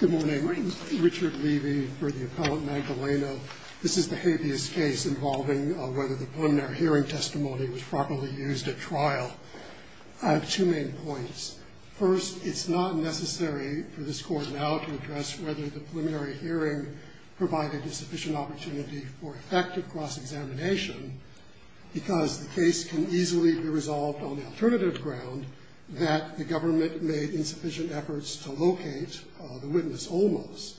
Good morning. Richard Levy for the Appellant Magdaleno. This is the habeas case involving whether the preliminary hearing testimony was properly used at trial. I have two main points. First, it's not necessary for this Court now to address whether the preliminary hearing provided a sufficient opportunity for effective cross-examination because the case can easily be resolved on the alternative ground that the government made insufficient efforts to locate the witness almost.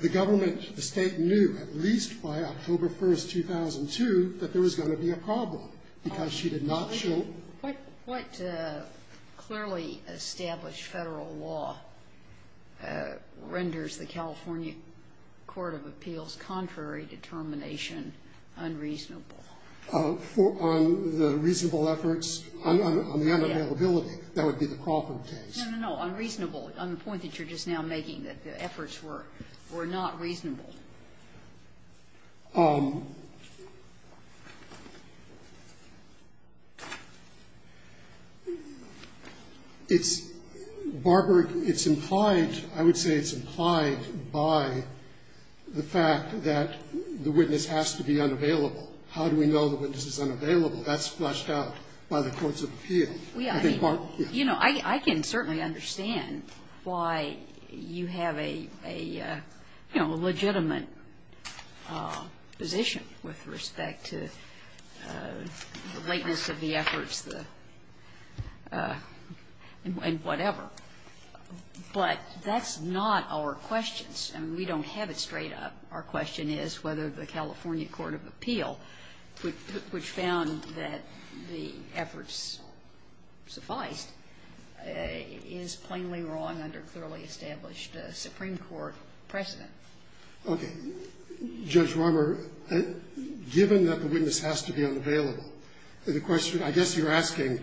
The government, the State, knew at least by October 1st, 2002 that there was going to be a problem because she did not show What clearly established Federal law renders the California Court of Appeals' contrary determination unreasonable? On the reasonable efforts? On the unavailability. That would be the Crawford case. No, no, no. Unreasonable. On the point that you're just now making, that the efforts were not reasonable. It's, Barbara, it's implied, I would say it's implied by the fact that the witness has to be unavailable. How do we know the witness is unavailable? That's fleshed out by the courts of appeal. I can certainly understand why you have a legitimate position with respect to the lateness of the efforts and whatever. But that's not our questions. I mean, we don't have it straight up. Our question is whether the California Court of Appeal, which found that the efforts sufficed, is plainly wrong under clearly established Supreme Court precedent. Okay. Judge Romer, given that the witness has to be unavailable, the question, I guess you're asking,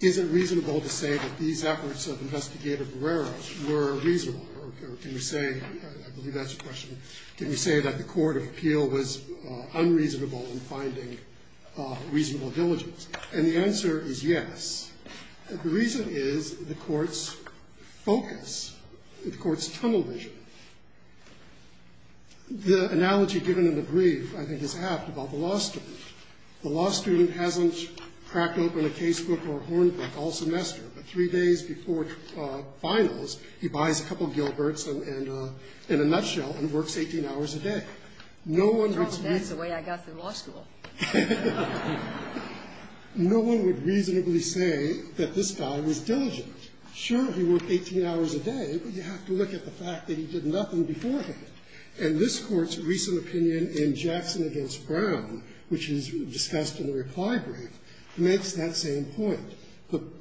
is it reasonable to say that these efforts of Investigator Barrera were reasonable? Or can you say, I believe that's the question, can you say that the court of appeal was unreasonable in finding reasonable diligence? And the answer is yes. The reason is the Court's focus, the Court's tunnel vision. The analogy given in the brief, I think, is apt about the law student. The law student hasn't cracked open a casebook or a horn book all semester. Three days before finals, he buys a couple of Gilberts and, in a nutshell, and works 18 hours a day. No one would reasonably say that this guy was diligent. Sure, he worked 18 hours a day, but you have to look at the fact that he did nothing beforehand. And this Court's recent opinion in Jackson v. Brown, which is discussed in the reply brief, makes that same point.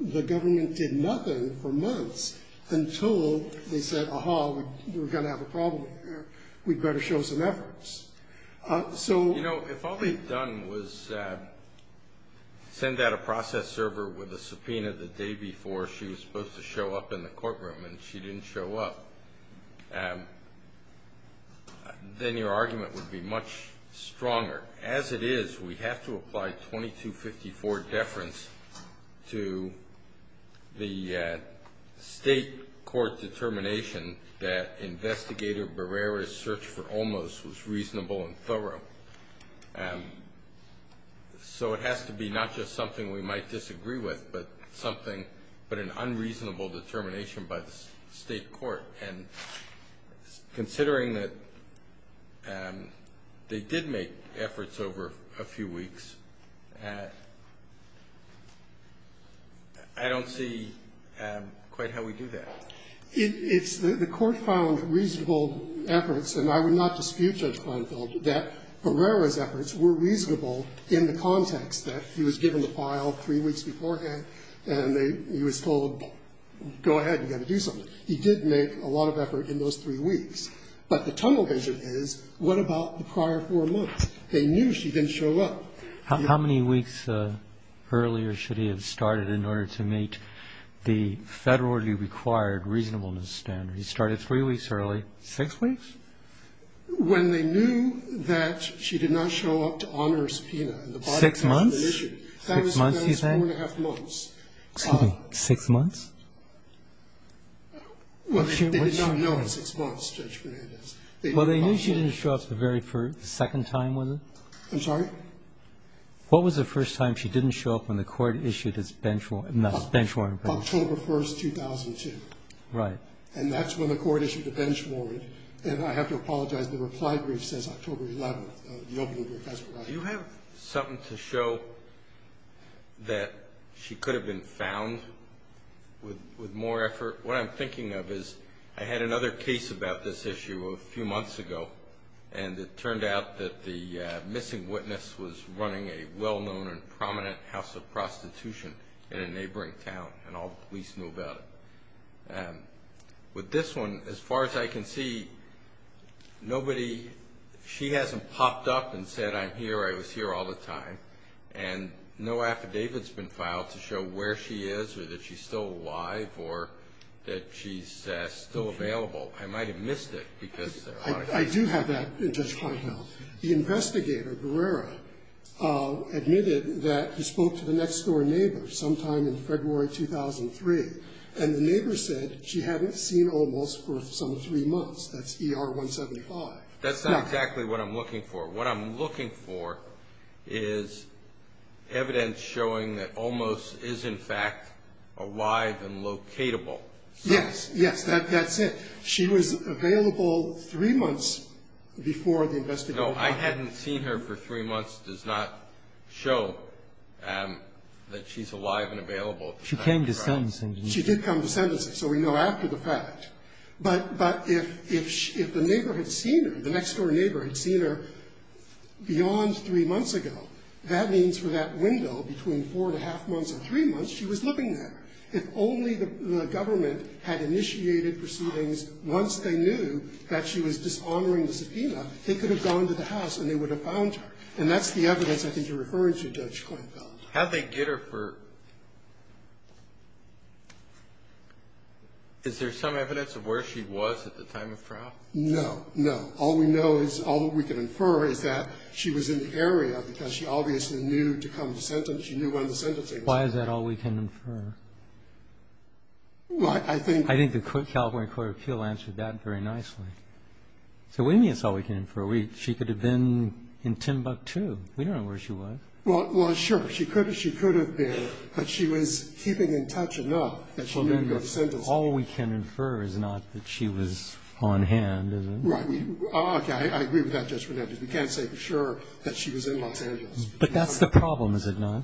The government did nothing for months until they said, aha, we're going to have a problem here. We'd better show some efforts. You know, if all they'd done was send out a process server with a subpoena the day before she was supposed to show up in the courtroom and she didn't show up, then your argument would be much stronger. As it is, we have to apply 2254 deference to the state court determination that Investigator Barrera's search for Olmos was reasonable and thorough. So it has to be not just something we might disagree with, but an unreasonable determination by the state court. And considering that they did make efforts over a few weeks, I don't see quite how we do that. It's the Court found reasonable efforts, and I would not dispute Judge Kleinfeld, that Barrera's efforts were reasonable in the context that he was given the file three weeks beforehand and he was told, go ahead, you've got to do something. He did make a lot of effort in those three weeks. But the tunnel vision is, what about the prior four months? They knew she didn't show up. How many weeks earlier should he have started in order to meet the federally required reasonableness standard? He started three weeks early. Six weeks? When they knew that she did not show up to honor a subpoena. Six months? That was four and a half months. Excuse me. Six months? Well, they did not know in six months, Judge Fernandez. Well, they knew she didn't show up the second time, was it? I'm sorry? What was the first time she didn't show up when the Court issued its bench warrant? October 1st, 2002. Right. And that's when the Court issued the bench warrant. And I have to apologize, the reply brief says October 11th. The opening brief has it right. Do you have something to show that she could have been found with more effort? What I'm thinking of is I had another case about this issue a few months ago, and it turned out that the missing witness was running a well-known and prominent house of prostitution in a neighboring town, and all the police knew about it. With this one, as far as I can see, nobody, she hasn't popped up and said, I'm here, I was here all the time. And no affidavit has been filed to show where she is or that she's still alive or that she's still available. I might have missed it because. I do have that in touch right now. The investigator, Guerrero, admitted that he spoke to the next-door neighbor sometime in February 2003, and the neighbor said she hadn't seen Olmos for some three months. That's ER 175. Now. That's not exactly what I'm looking for. What I'm looking for is evidence showing that Olmos is, in fact, alive and locatable. Yes. Yes. That's it. She was available three months before the investigation. No, I hadn't seen her for three months does not show that she's alive and available. She came to sentencing. She did come to sentencing, so we know after the fact. But if the neighbor had seen her, the next-door neighbor had seen her beyond three months ago, that means for that window between four and a half months and three months, she was living there. If only the government had initiated proceedings once they knew that she was dishonoring the subpoena, they could have gone to the house and they would have found her. And that's the evidence I think you're referring to, Judge Kleinfeld. How'd they get her for? Is there some evidence of where she was at the time of trial? No. No. All we know is all we can infer is that she was in the area because she obviously knew to come to sentencing. She knew when the sentencing was. Why is that all we can infer? Well, I think. I think the California Court of Appeal answered that very nicely. So what do you mean it's all we can infer? She could have been in Timbuktu. We don't know where she was. Well, sure. She could have been. But she was keeping in touch enough that she knew to go to sentencing. All we can infer is not that she was on hand, is it? Right. Okay. I agree with that, Judge Fernandez. We can't say for sure that she was in Los Angeles. But that's the problem, is it not?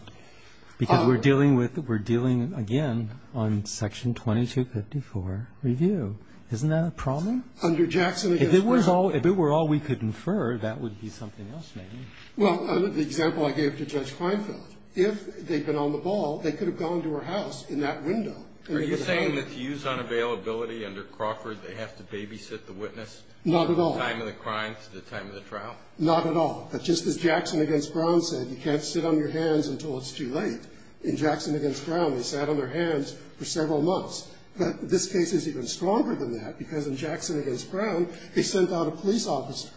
Because we're dealing with, we're dealing, again, on Section 2254 review. Isn't that a problem? Under Jackson against Brown. If it were all we could infer, that would be something else, maybe. Well, the example I gave to Judge Klinefeld, if they'd been on the ball, they could have gone to her house in that window. Are you saying that to use unavailability under Crawford, they have to babysit the witness? Not at all. From the time of the crime to the time of the trial? Not at all. But just as Jackson against Brown said, you can't sit on your hands until it's too late. In Jackson against Brown, they sat on their hands for several months. But this case is even stronger than that, because in Jackson against Brown, they sent out a police officer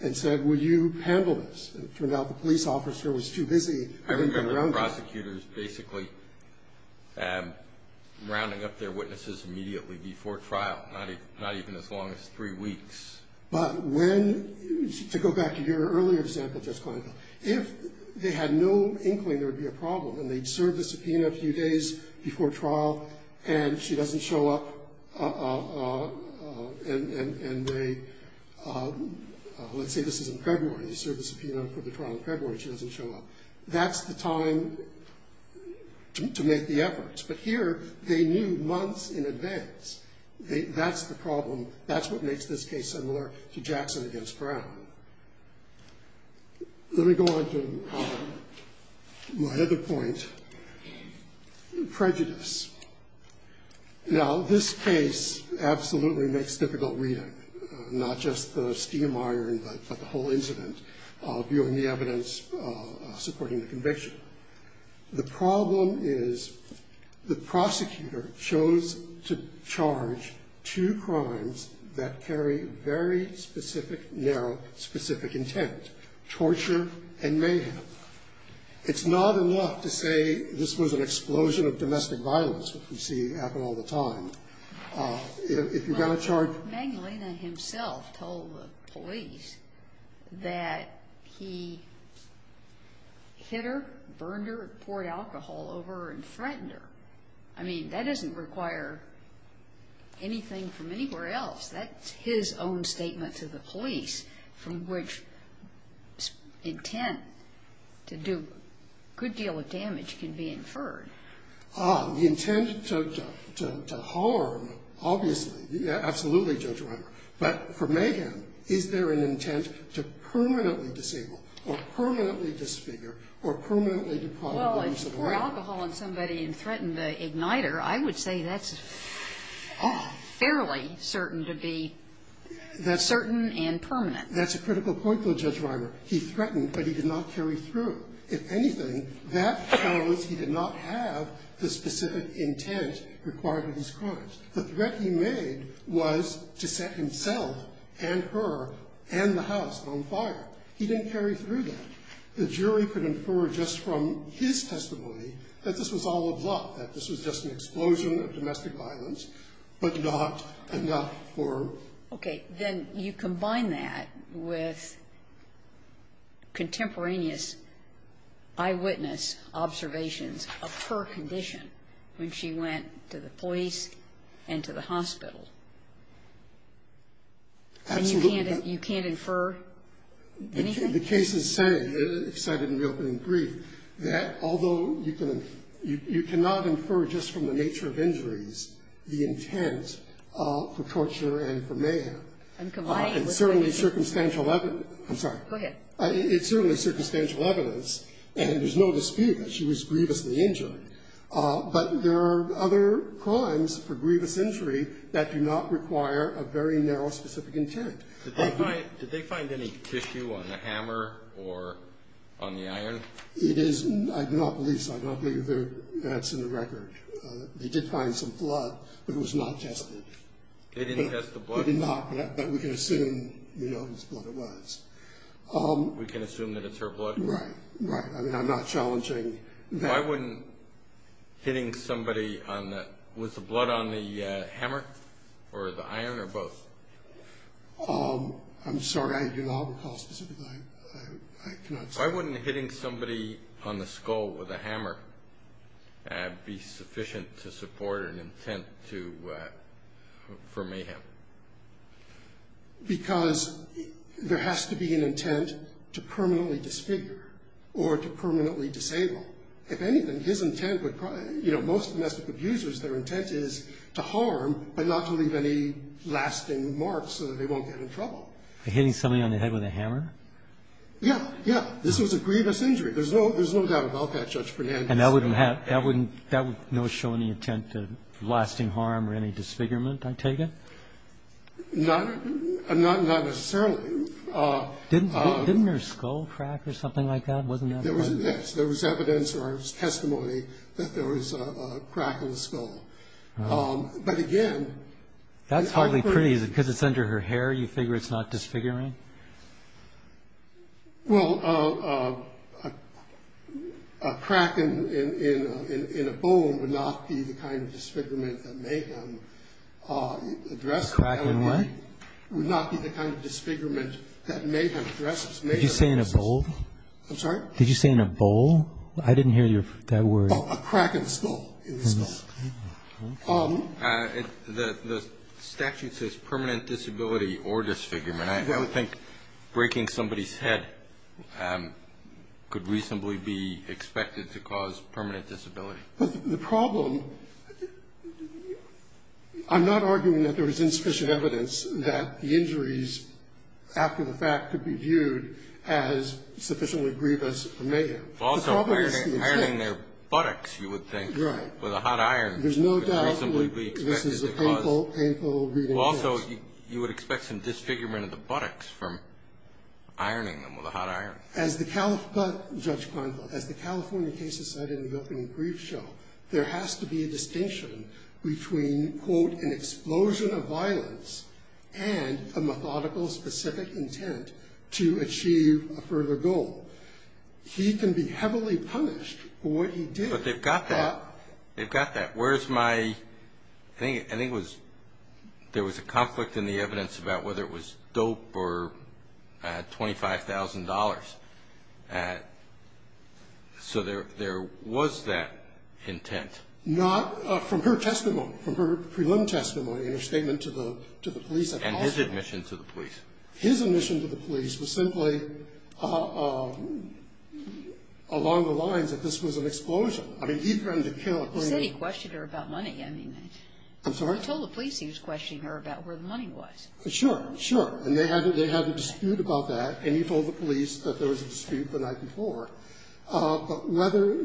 and said, will you handle this? It turned out the police officer was too busy. I remember the prosecutors basically rounding up their witnesses immediately before trial, not even as long as three weeks. But when, to go back to your earlier example, Judge Klinefeld, if they had no inkling there would be a problem, and they'd serve the subpoena a few days before trial, and she doesn't show up, and they, let's say this is in February. They serve the subpoena for the trial in February. She doesn't show up. That's the time to make the efforts. But here, they knew months in advance. That's the problem. That's what makes this case similar to Jackson against Brown. Let me go on to my other point, prejudice. Now, this case absolutely makes difficult reading, not just the steam iron, but the whole incident, viewing the evidence supporting the conviction. The problem is the prosecutor chose to charge two crimes that carry very specific, narrow, specific intent, torture and mayhem. It's not enough to say this was an explosion of domestic violence, which we see happen all the time. If you've got a charge. Well, Magdalena himself told the police that he hit her, burned her, and poured alcohol over her and threatened her. I mean, that doesn't require anything from anywhere else. That's his own statement to the police, from which intent to do a good deal of damage can be inferred. The intent to harm, obviously. Absolutely, Judge Reimer. But for mayhem, is there an intent to permanently disable or permanently disfigure or permanently deprive the person of right? Well, if he poured alcohol on somebody and threatened the igniter, I would say that's fairly certain to be the certain and permanent. That's a critical point, though, Judge Reimer. He threatened, but he did not carry through. If anything, that shows he did not have the specific intent required of these crimes. The threat he made was to set himself and her and the house on fire. He didn't carry through that. The jury could infer just from his testimony that this was all a bluff, that this was just an explosion of domestic violence, but not enough for her. Okay. Then you combine that with contemporaneous eyewitness observations of her condition when she went to the police and to the hospital. Absolutely. And you can't infer anything? The cases say, cited in the opening brief, that although you cannot infer just from the nature of injuries the intent for torture and for mayhem, it's certainly circumstantial evidence. I'm sorry. Go ahead. It's certainly circumstantial evidence, and there's no dispute that she was grievously injured. But there are other crimes for grievous injury that do not require a very narrow specific intent. Did they find any tissue on the hammer or on the iron? I do not believe so. I don't believe that's in the record. They did find some blood, but it was not tested. They didn't test the blood? It did not, but we can assume whose blood it was. We can assume that it's her blood? Right. Right. I mean, I'm not challenging that. Why wouldn't hitting somebody on the – was the blood on the hammer or the iron or both? I'm sorry. I do not recall specifically. I cannot say. Why wouldn't hitting somebody on the skull with a hammer be sufficient to support an intent to – for mayhem? Because there has to be an intent to permanently disfigure or to permanently disable. If anything, his intent would – you know, most domestic abusers, their intent is to harm but not to leave any lasting marks so that they won't get in trouble. Hitting somebody on the head with a hammer? Yeah. Yeah. This was a grievous injury. There's no doubt about that, Judge Fernandes. And that would show any intent to lasting harm or any disfigurement, I take it? Not necessarily. Didn't her skull crack or something like that? Wasn't that part of it? Yes. There was evidence or there was testimony that there was a crack in the skull. But again – That's hardly pretty, is it? Because it's under her hair, you figure it's not disfiguring? Well, a crack in a bone would not be the kind of disfigurement that mayhem addresses. A crack in what? Would not be the kind of disfigurement that mayhem addresses. Did you say in a bowl? I'm sorry? Did you say in a bowl? I didn't hear that word. A crack in the skull, in the skull. The statute says permanent disability or disfigurement. And I think breaking somebody's head could reasonably be expected to cause permanent disability. The problem – I'm not arguing that there was insufficient evidence that the injuries after the fact could be viewed as sufficiently grievous or mayhem. Also, ironing their buttocks, you would think, with a hot iron. Right. There's no doubt this is a painful, painful reading. Also, you would expect some disfigurement of the buttocks from ironing them with a hot iron. As the California case is cited in the opening brief show, there has to be a distinction between, quote, an explosion of violence and a methodical, specific intent to achieve a further goal. He can be heavily punished for what he did. But they've got that. They've got that. I think there was a conflict in the evidence about whether it was dope or $25,000. So there was that intent. Not from her testimony, from her preliminary testimony in her statement to the police. And his admission to the police. His admission to the police was simply along the lines that this was an explosion. I mean, he threatened to kill. He said he questioned her about money. I mean. I'm sorry? He told the police he was questioning her about where the money was. Sure. Sure. And they had a dispute about that. And he told the police that there was a dispute the night before. But whether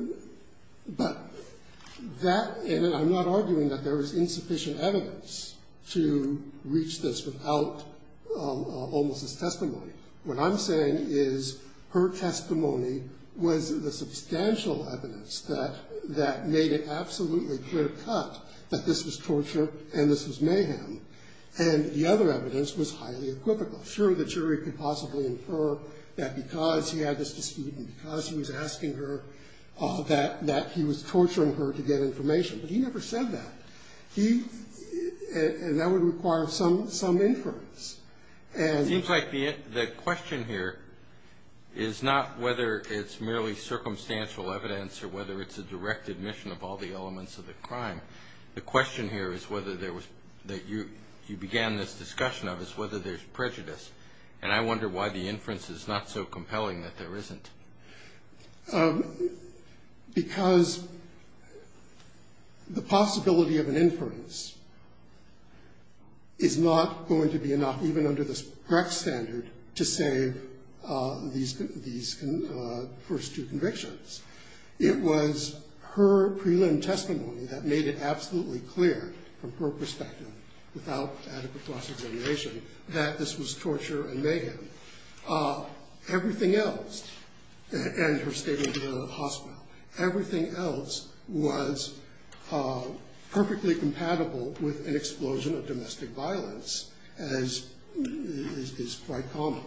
that, and I'm not arguing that there was insufficient evidence to reach this without almost his testimony. What I'm saying is her testimony was the substantial evidence that made it absolutely clear cut that this was torture and this was mayhem. And the other evidence was highly equivocal. Sure, the jury could possibly infer that because he had this dispute and because he was asking her that he was torturing her to get information. But he never said that. He, and that would require some inference. It seems like the question here is not whether it's merely circumstantial evidence or whether it's a direct admission of all the elements of the crime. The question here is whether there was, that you began this discussion of, is whether there's prejudice. And I wonder why the inference is not so compelling that there isn't. Because the possibility of an inference is not going to be enough, even under the correct standard, to save these first two convictions. It was her prelim testimony that made it absolutely clear, from her perspective, without adequate cross-examination, that this was torture and mayhem. Everything else, and her statement about the hospital, everything else was perfectly compatible with an explosion of domestic violence, as is quite common.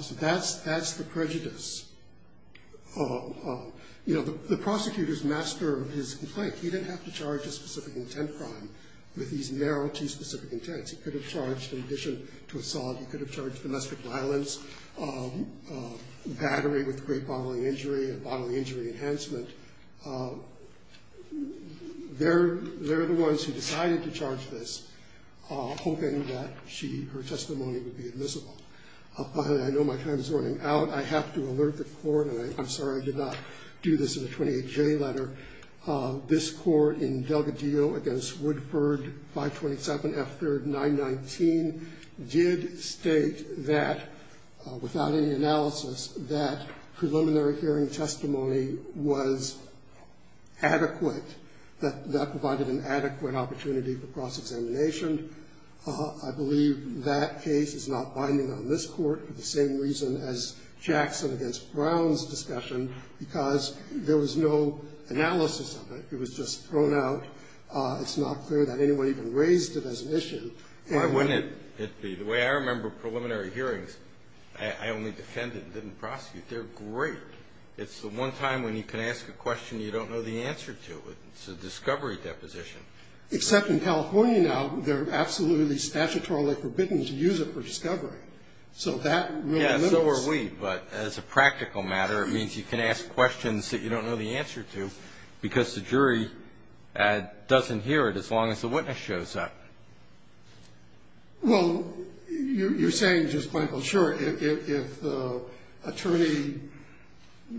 So that's the prejudice. You know, the prosecutor's master of his complaint, he didn't have to charge a specific intent crime with these narrow, too specific intents. He could have charged, in addition to assault, he could have charged domestic violence, battery with great bodily injury, bodily injury enhancement. They're the ones who decided to charge this, hoping that she, her testimony would be admissible. Finally, I know my time is running out. I have to alert the court, and I'm sorry I did not do this in a 28-J letter. This Court, in Delgadillo v. Woodford, 527 F3, 919, did state that, without any analysis, that preliminary hearing testimony was adequate, that that provided an adequate opportunity for cross-examination. I believe that case is not binding on this Court, for the same reason as Jackson v. Brown's discussion, because there was no analysis of it. It was just thrown out. It's not clear that anyone even raised it as an issue. And why wouldn't it be? The way I remember preliminary hearings, I only defended, didn't prosecute. They're great. It's the one time when you can ask a question you don't know the answer to. It's a discovery deposition. Except in California now, they're absolutely statutorily forbidden to use it for discovery. So that really limits. Yeah, so are we. But as a practical matter, it means you can ask questions that you don't know the answer to because the jury doesn't hear it as long as the witness shows up. Well, you're saying just plain, well, sure. If the attorney,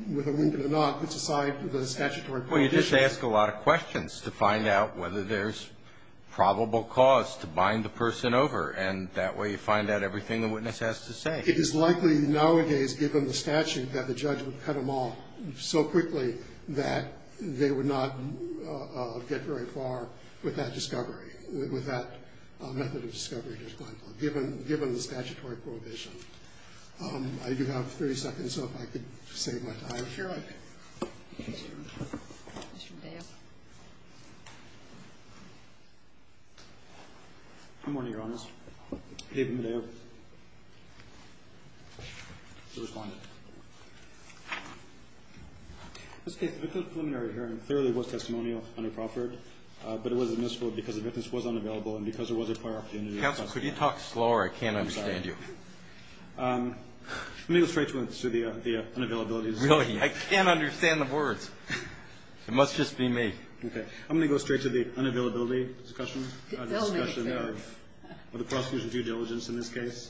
whether wounded or not, puts aside the statutory conditions. Well, you just ask a lot of questions to find out whether there's probable cause to bind the person over. And that way you find out everything the witness has to say. It is likely nowadays, given the statute, that the judge would cut them off so quickly that they would not get very far with that discovery, with that method of discovery just plain, well, given the statutory prohibition. I do have 30 seconds, so if I could save my time. Sure. Mr. Dale. Good morning, Your Honors. David Medea to respond. In this case, the victim's preliminary hearing clearly was testimonial under Crawford, but it was admissible because the witness was unavailable and because there was a prior opportunity. Counsel, could you talk slower? I can't understand you. I'm sorry. Let me go straight to the unavailability discussion. Really? I can't understand the words. It must just be me. Okay. I'm going to go straight to the unavailability discussion. The prosecution's due diligence in this case.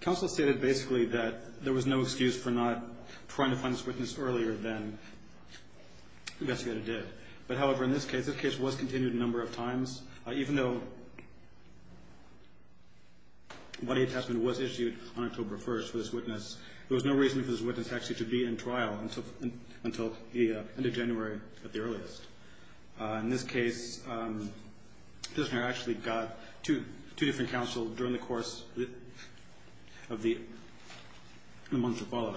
Counsel stated basically that there was no excuse for not trying to find this witness earlier than the investigator did. But, however, in this case, this case was continued a number of times. Even though a body attachment was issued on October 1st for this witness, there was no reason for this witness actually to be in trial until the end of January at the earliest. In this case, the prisoner actually got two different counsels during the course of the month that followed.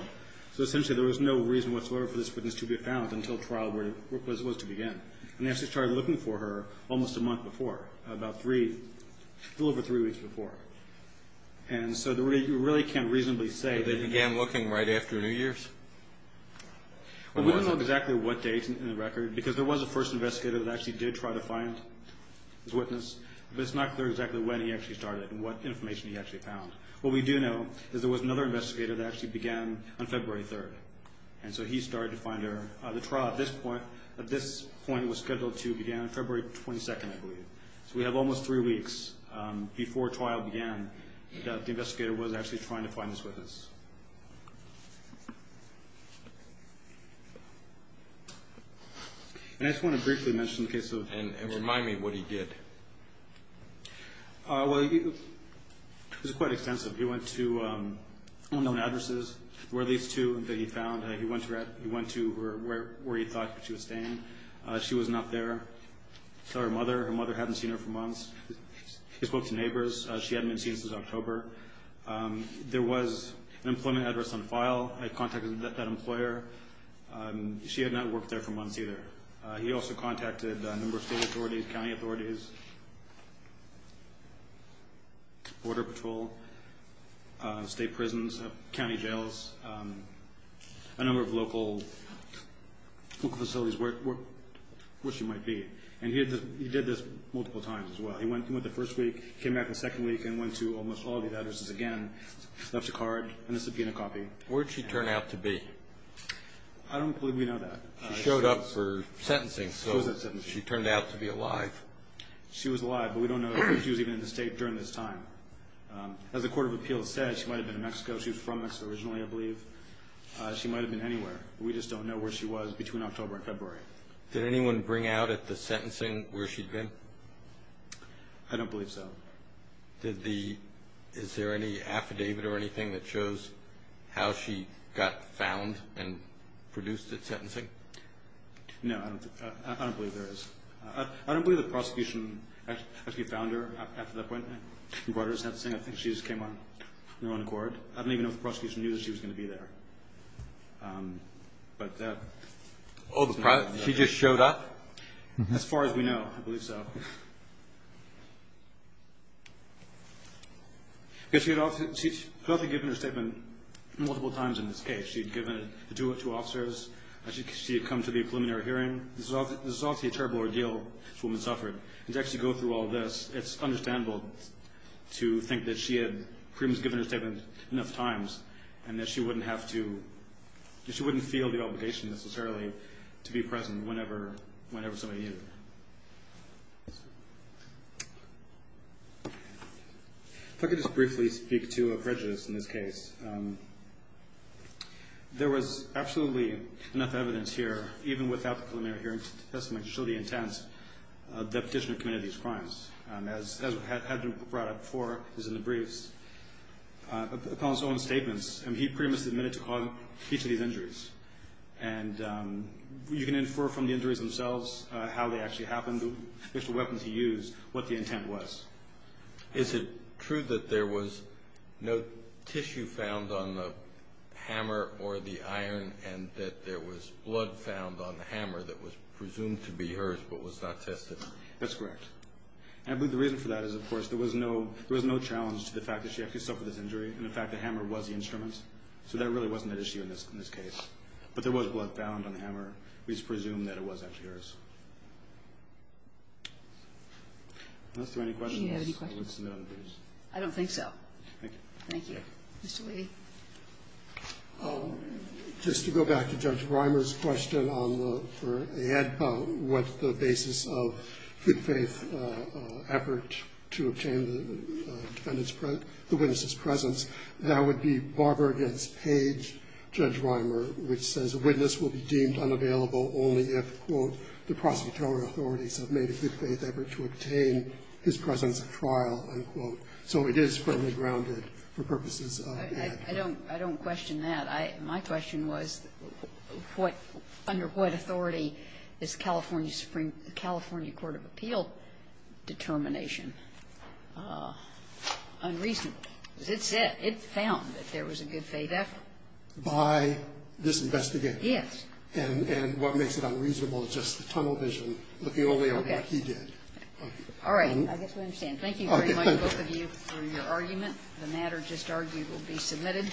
So essentially there was no reason whatsoever for this witness to be found until trial was to begin. And they actually started looking for her almost a month before, about three, a little over three weeks before. And so you really can't reasonably say. They began looking right after New Year's? We don't know exactly what date in the record because there was a first investigator that actually did try to find this witness. But it's not clear exactly when he actually started and what information he actually found. What we do know is there was another investigator that actually began on February 3rd. And so he started to find her. The trial at this point was scheduled to begin on February 22nd, I believe. So we have almost three weeks before trial began that the investigator was actually trying to find this witness. And I just want to briefly mention the case of. And remind me what he did. Well, it was quite extensive. He went to unknown addresses. There were at least two that he found. He went to where he thought she was staying. She was not there. He spoke to neighbors. She hadn't been seen since October. There was an employment address on file. I contacted that employer. She had not worked there for months either. He also contacted a number of state authorities, county authorities, Border Patrol, state prisons, county jails, a number of local facilities where she might be. And he did this multiple times as well. He went the first week, came back the second week, and went to almost all the addresses again. Left a card and a subpoena copy. Where did she turn out to be? I don't believe we know that. She showed up for sentencing, so she turned out to be alive. She was alive, but we don't know if she was even in the state during this time. As the Court of Appeals said, she might have been in Mexico. She was from Mexico originally, I believe. She might have been anywhere. We just don't know where she was between October and February. Did anyone bring out at the sentencing where she'd been? I don't believe so. Is there any affidavit or anything that shows how she got found and produced at sentencing? No, I don't believe there is. I don't believe the prosecution actually found her after that point. I think she just came out and went to court. I don't even know if the prosecution knew that she was going to be there. She just showed up? As far as we know, I believe so. She's probably given her statement multiple times in this case. She'd given it to two officers. She had come to the preliminary hearing. This is obviously a terrible ordeal this woman suffered. To actually go through all this, it's understandable to think that she had given her statement enough times and that she wouldn't feel the obligation necessarily to be present whenever somebody needed her. If I could just briefly speak to a prejudice in this case. There was absolutely enough evidence here, even without the preliminary hearing testimony, to show the intent of the petitioner committing these crimes. As had been brought up before in the briefs, upon his own statements, he pretty much admitted to causing each of these injuries. You can infer from the injuries themselves how they actually happened, the special weapons he used, what the intent was. Is it true that there was no tissue found on the hammer or the iron and that there was blood found on the hammer that was presumed to be hers but was not tested? That's correct. And I believe the reason for that is, of course, there was no challenge to the fact that she actually suffered this injury and the fact that the hammer was the instrument. So there really wasn't an issue in this case. But there was blood found on the hammer. We just presume that it was actually hers. Unless there are any questions, I would submit them to you. I don't think so. Thank you. Thank you. Mr. Leahy. Just to go back to Judge Reimer's question for AEDPA, what's the basis of good faith effort to obtain the witness's presence? That would be Barber v. Page, Judge Reimer, which says a witness will be deemed unavailable only if, quote, the prosecutorial authorities have made a good faith effort to obtain his presence at trial, unquote. So it is firmly grounded for purposes of AEDPA. I don't question that. My question was, under what authority is California Supreme – California Court of Appeal determination unreasonable? Because it said – it found that there was a good faith effort. By this investigation? Yes. And what makes it unreasonable is just the tunnel vision looking only at what he did. Okay. All right. I guess we understand. Thank you very much, both of you, for your argument. The matter just argued will be submitted.